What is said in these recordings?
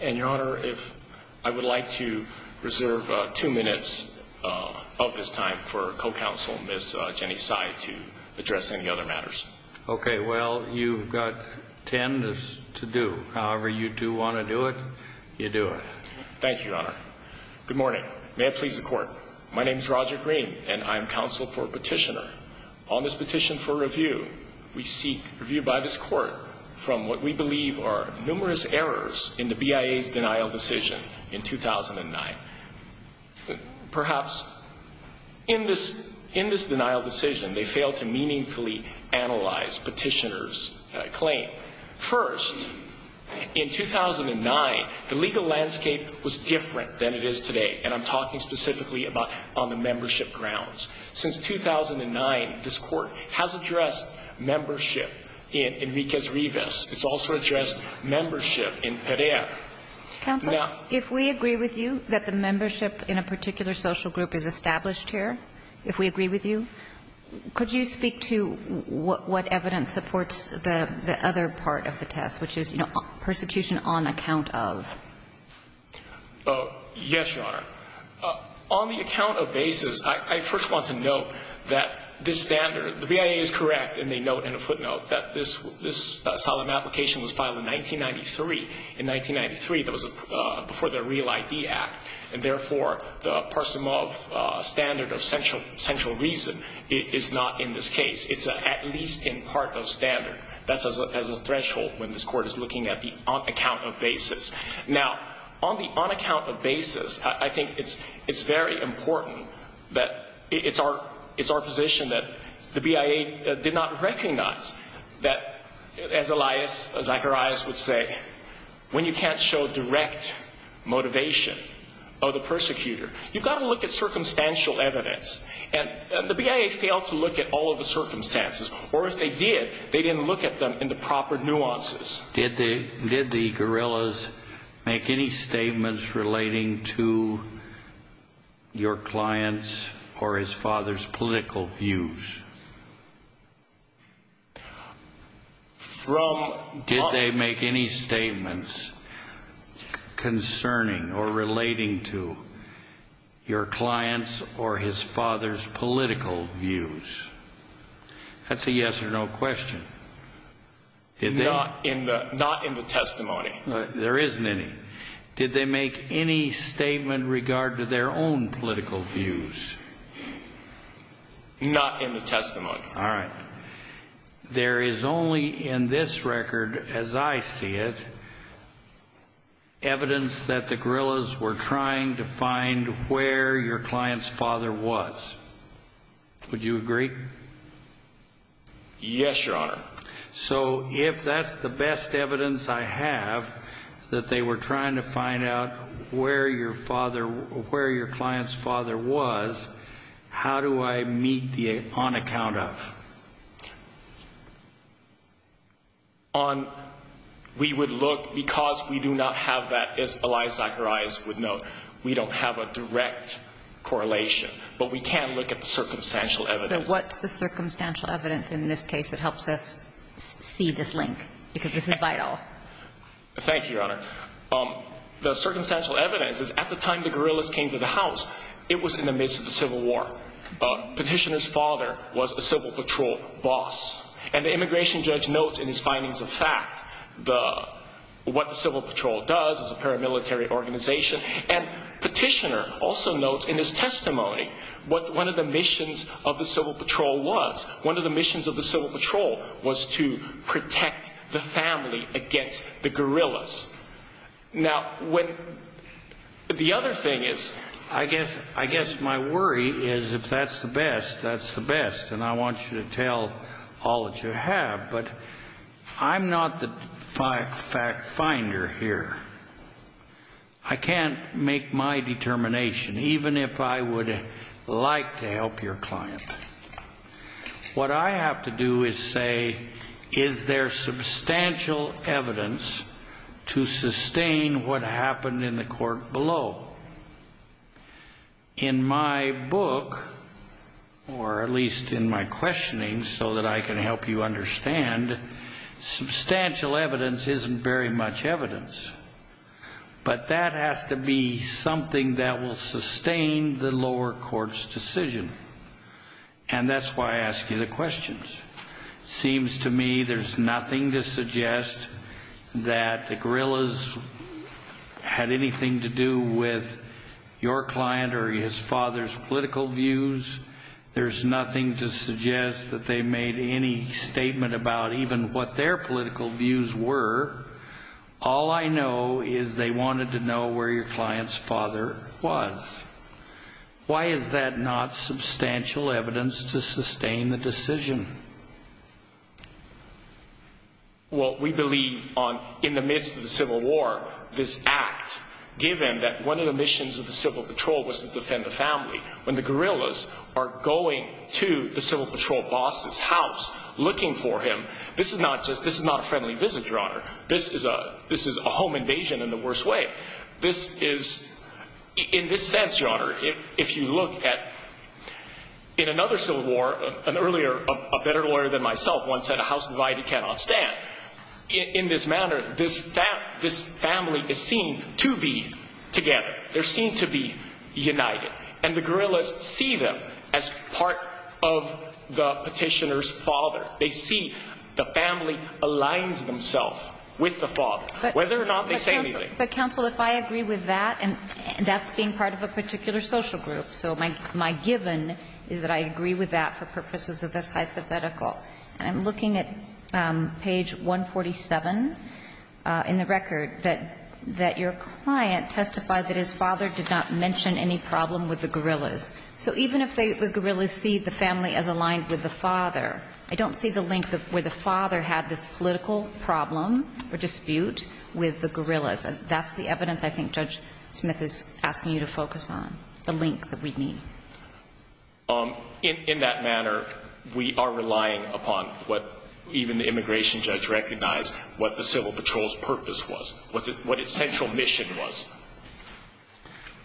And, Your Honor, if I would like to reserve two minutes of this time for co-counsel, Ms. Jenny Tsai, to address any other matters. Okay, well, you've got ten to do. However you do want to do it, you do it. Thank you, Your Honor. Good morning. May it please the Court, my name is Roger Green, and I am counsel for petitioner. On this petition for review, we seek review by this Court from what we believe are numerous errors in the BIA's denial decision in 2009. Perhaps in this denial decision, they failed to meaningfully analyze petitioner's claim. First, in 2009, the legal landscape was different than it is today, and I'm talking specifically about on the membership grounds. Since 2009, this Court has addressed membership in Enriquez-Rivas. It's also addressed membership in Perea. Counsel, if we agree with you that the membership in a particular social group is established here, if we agree with you, could you speak to what evidence supports the other part of the test, which is, you know, persecution on account of? Yes, Your Honor. On the account of basis, I first want to note that this standard, the BIA is correct, and they note in a footnote, that this solemn application was filed in 1993. In 1993, that was before the Real ID Act, and therefore, the parsim of standard of central reason is not in this case. It's at least in part of standard. That's as a threshold when this Court is looking at the account of basis. Now, on the on account of basis, I think it's very important that it's our position that the BIA did not recognize that, as Elias Zacharias would say, when you can't show direct motivation of the persecutor, you've got to look at circumstantial evidence, and the BIA failed to look at all of the circumstances, or if they did, they didn't look at them in the proper nuances. Did the guerrillas make any statements relating to your client's or his father's political views? Did they make any statements concerning or relating to your client's or his father's political views? That's a yes or no question. Not in the testimony. There isn't any. Did they make any statement in regard to their own political views? Not in the testimony. All right. There is only in this record, as I see it, evidence that the guerrillas were trying to find where your client's father was. Would you agree? Yes, Your Honor. So if that's the best evidence I have, that they were trying to find out where your client's father was, how do I meet the on account of? We would look, because we do not have that, as Elias Zacharias would note, we don't have a direct correlation, but we can look at the circumstantial evidence. So what's the circumstantial evidence in this case that helps us see this link, because this is vital? Thank you, Your Honor. The circumstantial evidence is at the time the guerrillas came to the house, it was in the midst of the Civil War. Petitioner's father was a Civil Patrol boss, and the immigration judge notes in his findings of fact what the Civil Patrol does as a paramilitary organization, and Petitioner also notes in his testimony what one of the missions of the Civil Patrol was. One of the missions of the Civil Patrol was to protect the family against the guerrillas. Now, the other thing is, I guess my worry is if that's the best, that's the best, and I want you to tell all that you have, but I'm not the finder here. I can't make my determination, even if I would like to help your client. What I have to do is say, is there substantial evidence to sustain what happened in the court below? In my book, or at least in my questioning so that I can help you understand, substantial evidence isn't very much evidence, but that has to be something that will sustain the lower court's decision, and that's why I ask you the questions. It seems to me there's nothing to suggest that the guerrillas had anything to do with your client or his father's political views. There's nothing to suggest that they made any statement about even what their political views were. All I know is they wanted to know where your client's father was. Why is that not substantial evidence to sustain the decision? Well, we believe in the midst of the Civil War, this act, given that one of the missions of the Civil Patrol was to defend the family, when the guerrillas are going to the Civil Patrol boss's house looking for him, this is not a friendly visit, Your Honor. This is a home invasion in the worst way. This is, in this sense, Your Honor, if you look at, in another Civil War, an earlier, a better lawyer than myself once said, a house divided cannot stand. In this manner, this family is seen to be together. They're seen to be united. And the guerrillas see them as part of the Petitioner's father. They see the family aligns themselves with the father, whether or not they say anything. But, counsel, if I agree with that, and that's being part of a particular social group, so my given is that I agree with that for purposes of this hypothetical. And I'm looking at page 147 in the record that your client testified that his father did not mention any problem with the guerrillas. So even if the guerrillas see the family as aligned with the father, I don't see the link where the father had this political problem or dispute with the guerrillas. That's the evidence I think Judge Smith is asking you to focus on, the link that we need. In that manner, we are relying upon what even the immigration judge recognized, what the Civil Patrol's purpose was, what its central mission was.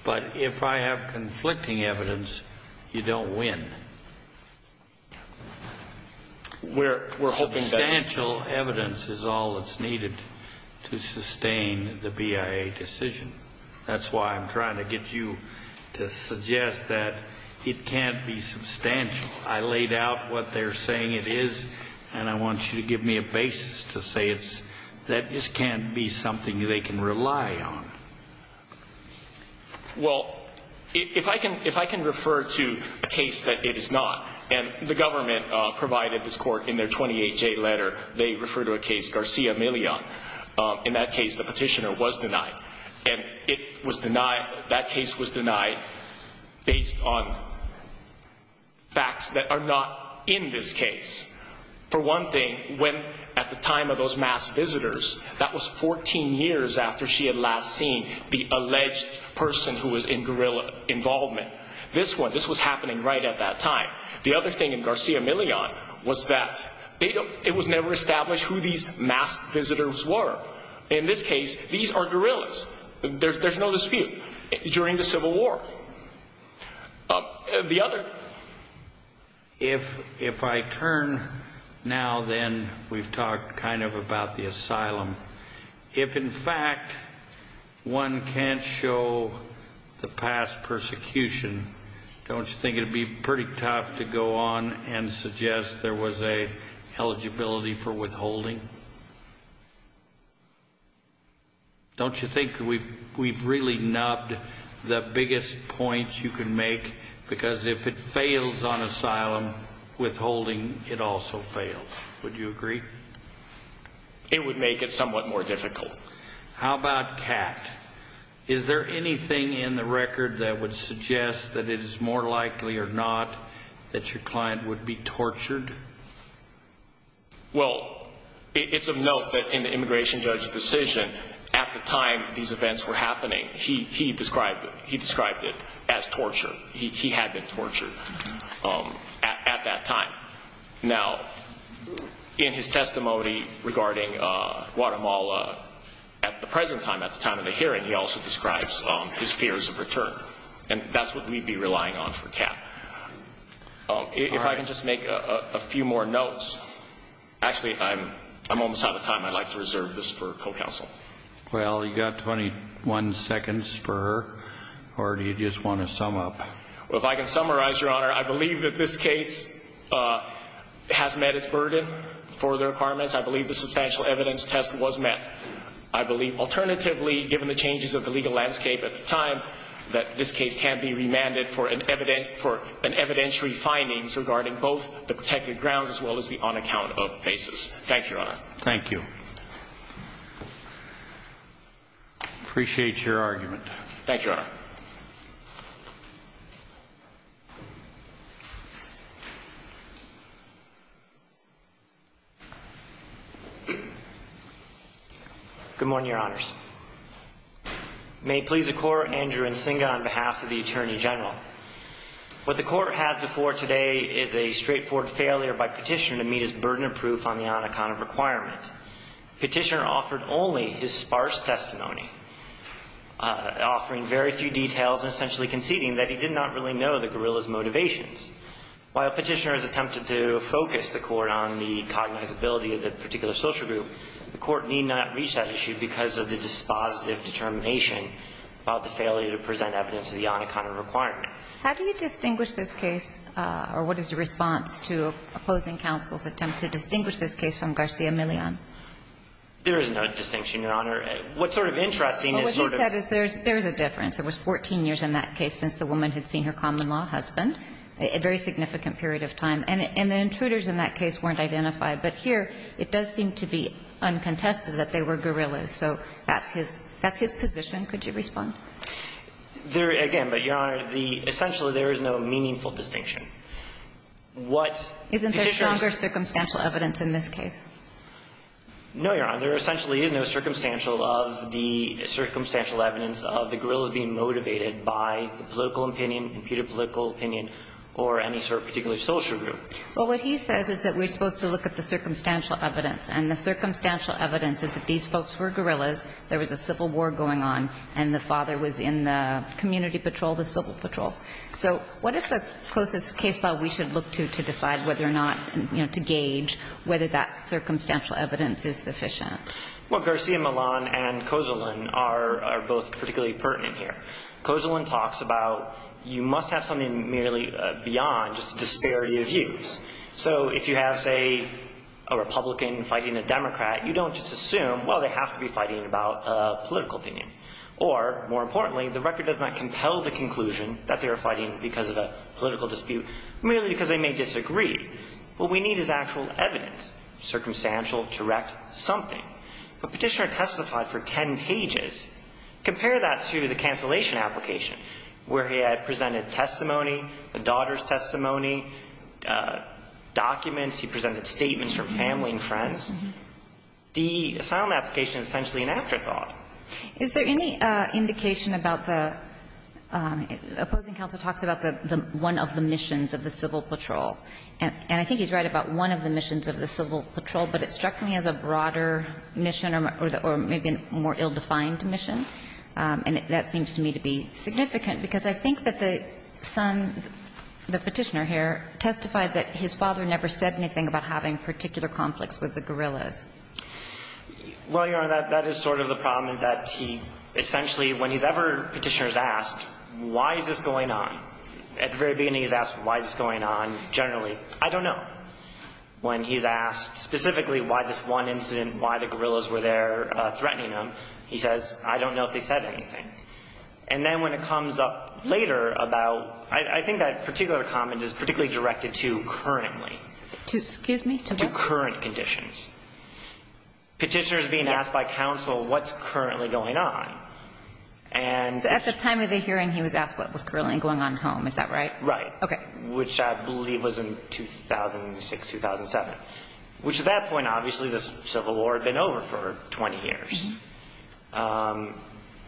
But if I have conflicting evidence, you don't win. Substantial evidence is all that's needed to sustain the BIA decision. That's why I'm trying to get you to suggest that it can't be substantial. I laid out what they're saying it is, and I want you to give me a basis to say that this can't be something they can rely on. Well, if I can refer to a case that it is not, and the government provided this court in their 28-J letter, they refer to a case, Garcia Millon. In that case, the petitioner was denied. And that case was denied based on facts that are not in this case. For one thing, when at the time of those mass visitors, that was 14 years after she had last seen the alleged person who was in guerrilla involvement. This one, this was happening right at that time. The other thing in Garcia Millon was that it was never established who these mass visitors were. In this case, these are guerrillas. There's no dispute. During the Civil War. The other. If I turn now, then we've talked kind of about the asylum. If, in fact, one can't show the past persecution, don't you think it would be pretty tough to go on and suggest there was an eligibility for withholding? Don't you think we've really nubbed the biggest point you can make? Because if it fails on asylum, withholding, it also fails. Would you agree? It would make it somewhat more difficult. How about CAT? Is there anything in the record that would suggest that it is more likely or not that your client would be tortured? Well, it's of note that in the immigration judge's decision at the time these events were happening, he described it as torture. He had been tortured at that time. Now, in his testimony regarding Guatemala at the present time, at the time of the hearing, he also describes his fears of return. And that's what we'd be relying on for CAT. If I can just make a few more notes. Actually, I'm almost out of time. I'd like to reserve this for co-counsel. Well, you've got 21 seconds for her, or do you just want to sum up? Well, if I can summarize, Your Honor, I believe that this case has met its burden for the requirements. I believe the substantial evidence test was met. I believe alternatively, given the changes of the legal landscape at the time, that this case can be remanded for an evidentiary findings regarding both the protected grounds as well as the on-account of basis. Thank you, Your Honor. Thank you. Appreciate your argument. Thank you, Your Honor. Good morning, Your Honors. May it please the Court, Andrew Nsinga on behalf of the Attorney General. What the Court has before today is a straightforward failure by Petitioner to meet his burden of proof on the on-account of requirement. Petitioner offered only his sparse testimony, offering very few details and essentially conceding that he did not really know the guerrilla's motivations. While Petitioner has attempted to focus the Court on the cognizability of the particular social group, the Court need not reach that issue because of the dispositive determination about the failure to present evidence of the on-account of requirement. How do you distinguish this case, or what is the response to opposing counsel's attempt to distinguish this case from Garcia-Millan? There is no distinction, Your Honor. What's sort of interesting is sort of there's a difference. There was 14 years in that case since the woman had seen her common-law husband, a very significant period of time. And the intruders in that case weren't identified. But here, it does seem to be uncontested that they were guerrillas. So that's his position. Could you respond? Again, but, Your Honor, the – essentially, there is no meaningful distinction. What Petitioner's – Isn't there stronger circumstantial evidence in this case? No, Your Honor. There essentially is no circumstantial of the – circumstantial evidence of the guerrillas being motivated by the political opinion, imputed political opinion, or any sort of particular social group. Well, what he says is that we're supposed to look at the circumstantial evidence. And the circumstantial evidence is that these folks were guerrillas, there was a civil war going on, and the father was in the community patrol, the civil patrol. So what is the closest case law we should look to to decide whether or not – you know, to gauge whether that circumstantial evidence is sufficient? Well, Garcia-Millan and Kozolan are both particularly pertinent here. Kozolan talks about you must have something merely beyond just a disparity of views. So if you have, say, a Republican fighting a Democrat, you don't just assume, well, they have to be fighting about a political opinion. Or, more importantly, the record does not compel the conclusion that they are fighting because of a political dispute merely because they may disagree. What we need is actual evidence, circumstantial, direct, something. But Petitioner testified for ten pages. Compare that to the cancellation application, where he had presented testimony, the daughter's testimony, documents, he presented statements from family and friends. The asylum application is essentially an afterthought. Is there any indication about the – Opposing Counsel talks about the – one of the missions of the civil patrol. And I think he's right about one of the missions of the civil patrol, but it struck me as a broader mission or maybe a more ill-defined mission. And that seems to me to be significant, because I think that the son, the Petitioner here, testified that his father never said anything about having particular conflicts with the guerrillas. Well, Your Honor, that is sort of the problem, that he essentially, when he's ever Petitioner's asked, why is this going on, at the very beginning he's asked why is this going on generally, I don't know. When he's asked specifically why this one incident, why the guerrillas were there threatening him, he says, I don't know if they said anything. And then when it comes up later about – I think that particular comment is particularly directed to currently. To, excuse me, to what? To current conditions. Petitioner's being asked by counsel what's currently going on. And – So at the time of the hearing, he was asked what was currently going on at home, is that right? Okay. Which I believe was in 2006, 2007. Which at that point, obviously, the Civil War had been over for 20 years.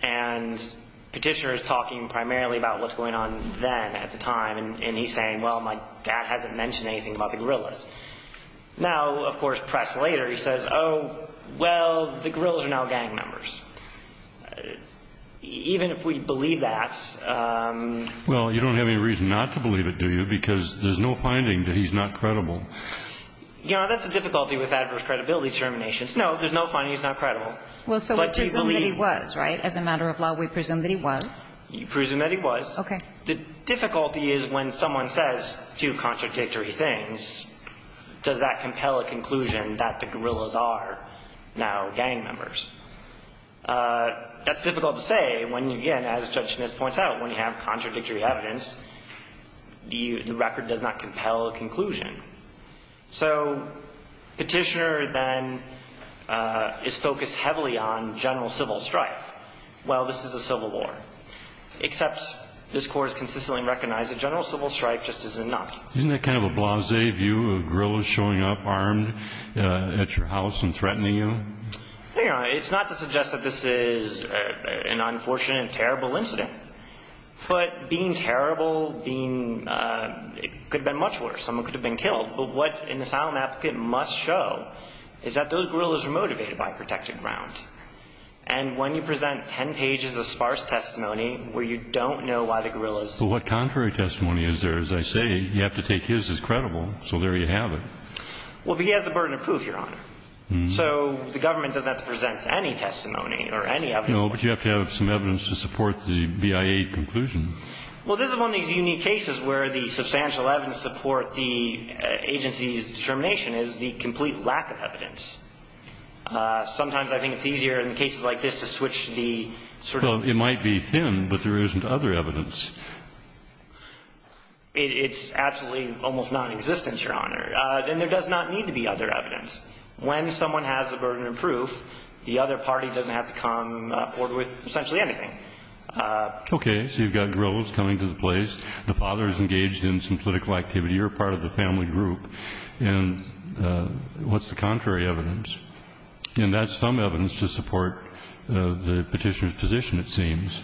And Petitioner is talking primarily about what's going on then, at the time. And he's saying, well, my dad hasn't mentioned anything about the guerrillas. Now, of course, pressed later, he says, oh, well, the guerrillas are now gang members. Even if we believe that – Well, you don't have any reason not to believe it, do you? Because there's no finding that he's not credible. You know, that's the difficulty with adverse credibility terminations. No, there's no finding he's not credible. Well, so we presume that he was, right? As a matter of law, we presume that he was. We presume that he was. Okay. The difficulty is when someone says two contradictory things, does that compel a conclusion that the guerrillas are now gang members? That's difficult to say when, again, as Judge Smith points out, when you have contradictory evidence, the record does not compel a conclusion. So Petitioner then is focused heavily on general civil strife. Well, this is a civil war. Except this Court has consistently recognized that general civil strife just isn't enough. Isn't that kind of a blasé view of guerrillas showing up armed at your house and threatening you? You know, it's not to suggest that this is an unfortunate and terrible incident. But being terrible, being – it could have been much worse. Someone could have been killed. But what an asylum applicant must show is that those guerrillas are motivated by protected ground. And when you present ten pages of sparse testimony where you don't know why the guerrillas – But what contrary testimony is there? As I say, you have to take his as credible. So there you have it. Well, but he has the burden of proof, Your Honor. So the government doesn't have to present any testimony or any evidence. Well, this is one of these unique cases where the substantial evidence to support the agency's determination is the complete lack of evidence. Sometimes I think it's easier in cases like this to switch the sort of – Well, it might be thin, but there isn't other evidence. It's absolutely almost nonexistent, Your Honor. Then there does not need to be other evidence. When someone has the burden of proof, the other party doesn't have to come forward with essentially anything. Okay. So you've got guerrillas coming to the place. The father is engaged in some political activity. You're part of the family group. And what's the contrary evidence? And that's some evidence to support the petitioner's position, it seems.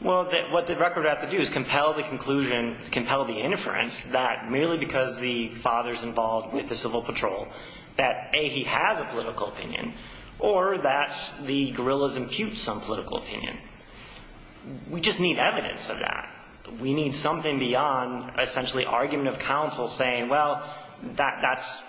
Well, what the record would have to do is compel the conclusion, compel the inference that merely because the father is involved with the Civil Patrol, that A, he has a political opinion, or that the guerrillas impute some political opinion. We just need evidence of that. We need something beyond essentially argument of counsel saying, well, that's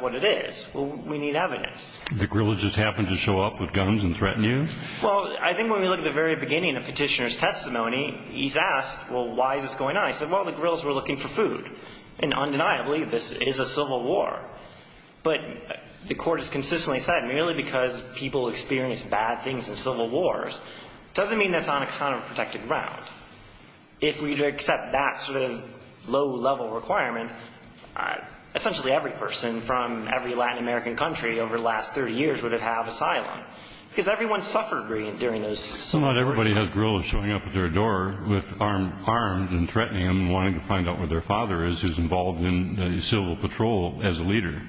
what it is. Well, we need evidence. The guerrillas just happened to show up with guns and threaten you? Well, I think when we look at the very beginning of Petitioner's testimony, he's asked, well, why is this going on? He said, well, the guerrillas were looking for food. And undeniably, this is a civil war. But the Court has consistently said, merely because people experience bad things in civil wars doesn't mean that's on a counterprotective ground. If we accept that sort of low-level requirement, essentially every person from every Latin American country over the last 30 years would have had asylum. Because everyone suffered during those civil wars. Well, not everybody has guerrillas showing up at their door with armed and threatening them and wanting to find out where their father is who's involved in the Civil Patrol as a leader.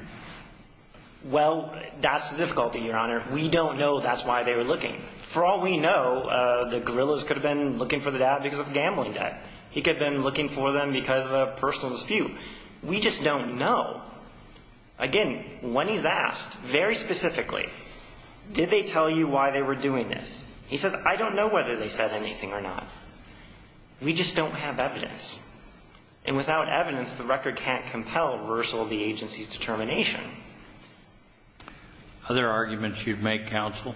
Well, that's the difficulty, Your Honor. We don't know that's why they were looking. For all we know, the guerrillas could have been looking for the dad because of the gambling debt. He could have been looking for them because of a personal dispute. We just don't know. Again, when he's asked, very specifically, did they tell you why they were doing this? He says, I don't know whether they said anything or not. We just don't have evidence. And without evidence, the record can't compel reversal of the agency's determination. Other arguments you'd make, Counsel?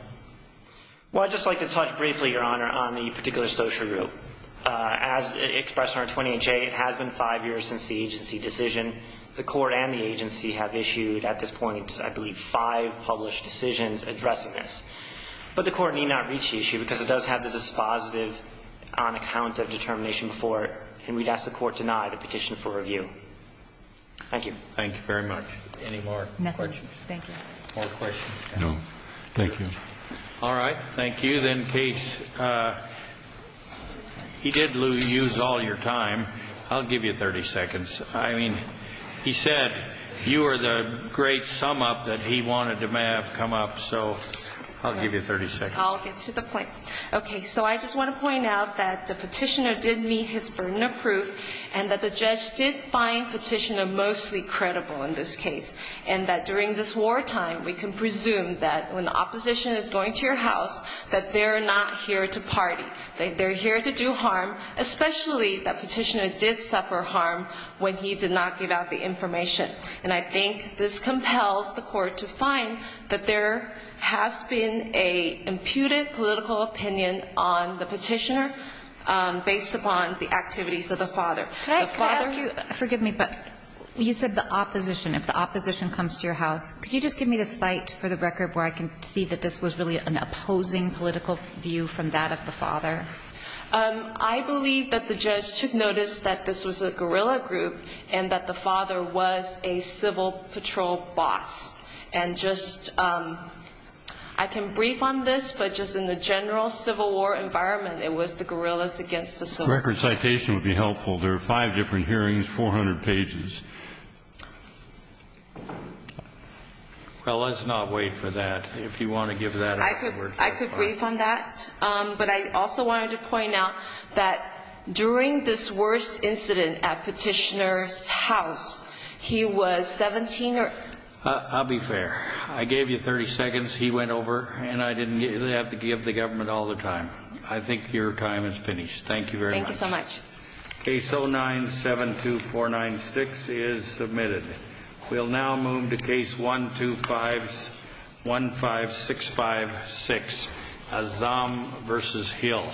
Well, I'd just like to touch briefly, Your Honor, on the particular social group. As expressed in Article 28J, it has been five years since the agency decision. The Court and the agency have issued at this point, I believe, five published decisions addressing this. But the Court need not reach the issue because it does have the dispositive on account of determination before it. And we'd ask the Court to deny the petition for review. Thank you. Thank you very much. Any more questions? Nothing. Thank you. No. Thank you. All right. Thank you. Then, Case, he did lose all your time. I'll give you 30 seconds. I mean, he said you were the great sum-up that he wanted to have come up. So I'll give you 30 seconds. I'll get to the point. Okay. So I just want to point out that the petitioner did meet his burden of proof and that the judge did find petitioner mostly credible in this case. And that during this wartime, we can presume that when the opposition is going to your house, that they're not here to party. They're here to do harm, especially that petitioner did suffer harm when he did not give out the information. And I think this compels the Court to find that there has been an imputed political opinion on the petitioner based upon the activities of the father. Could I ask you, forgive me, but you said the opposition. If the opposition comes to your house, could you just give me the site for the record where I can see that this was really an opposing political view from that of the father? I believe that the judge took notice that this was a guerrilla group and that the father was a civil patrol boss. And just ‑‑ I can brief on this, but just in the general civil war environment, it was the guerrillas against the civil ‑‑ The record citation would be helpful. There are five different hearings, 400 pages. Well, let's not wait for that. If you want to give that ‑‑ I could brief on that. But I also wanted to point out that during this worst incident at petitioner's house, he was 17 or ‑‑ I'll be fair. I gave you 30 seconds. He went over. And I didn't have to give the government all the time. I think your time is finished. Thank you very much. Thank you so much. Case 09‑72496 is submitted. We'll now move to case 15656, Azzam versus Hill.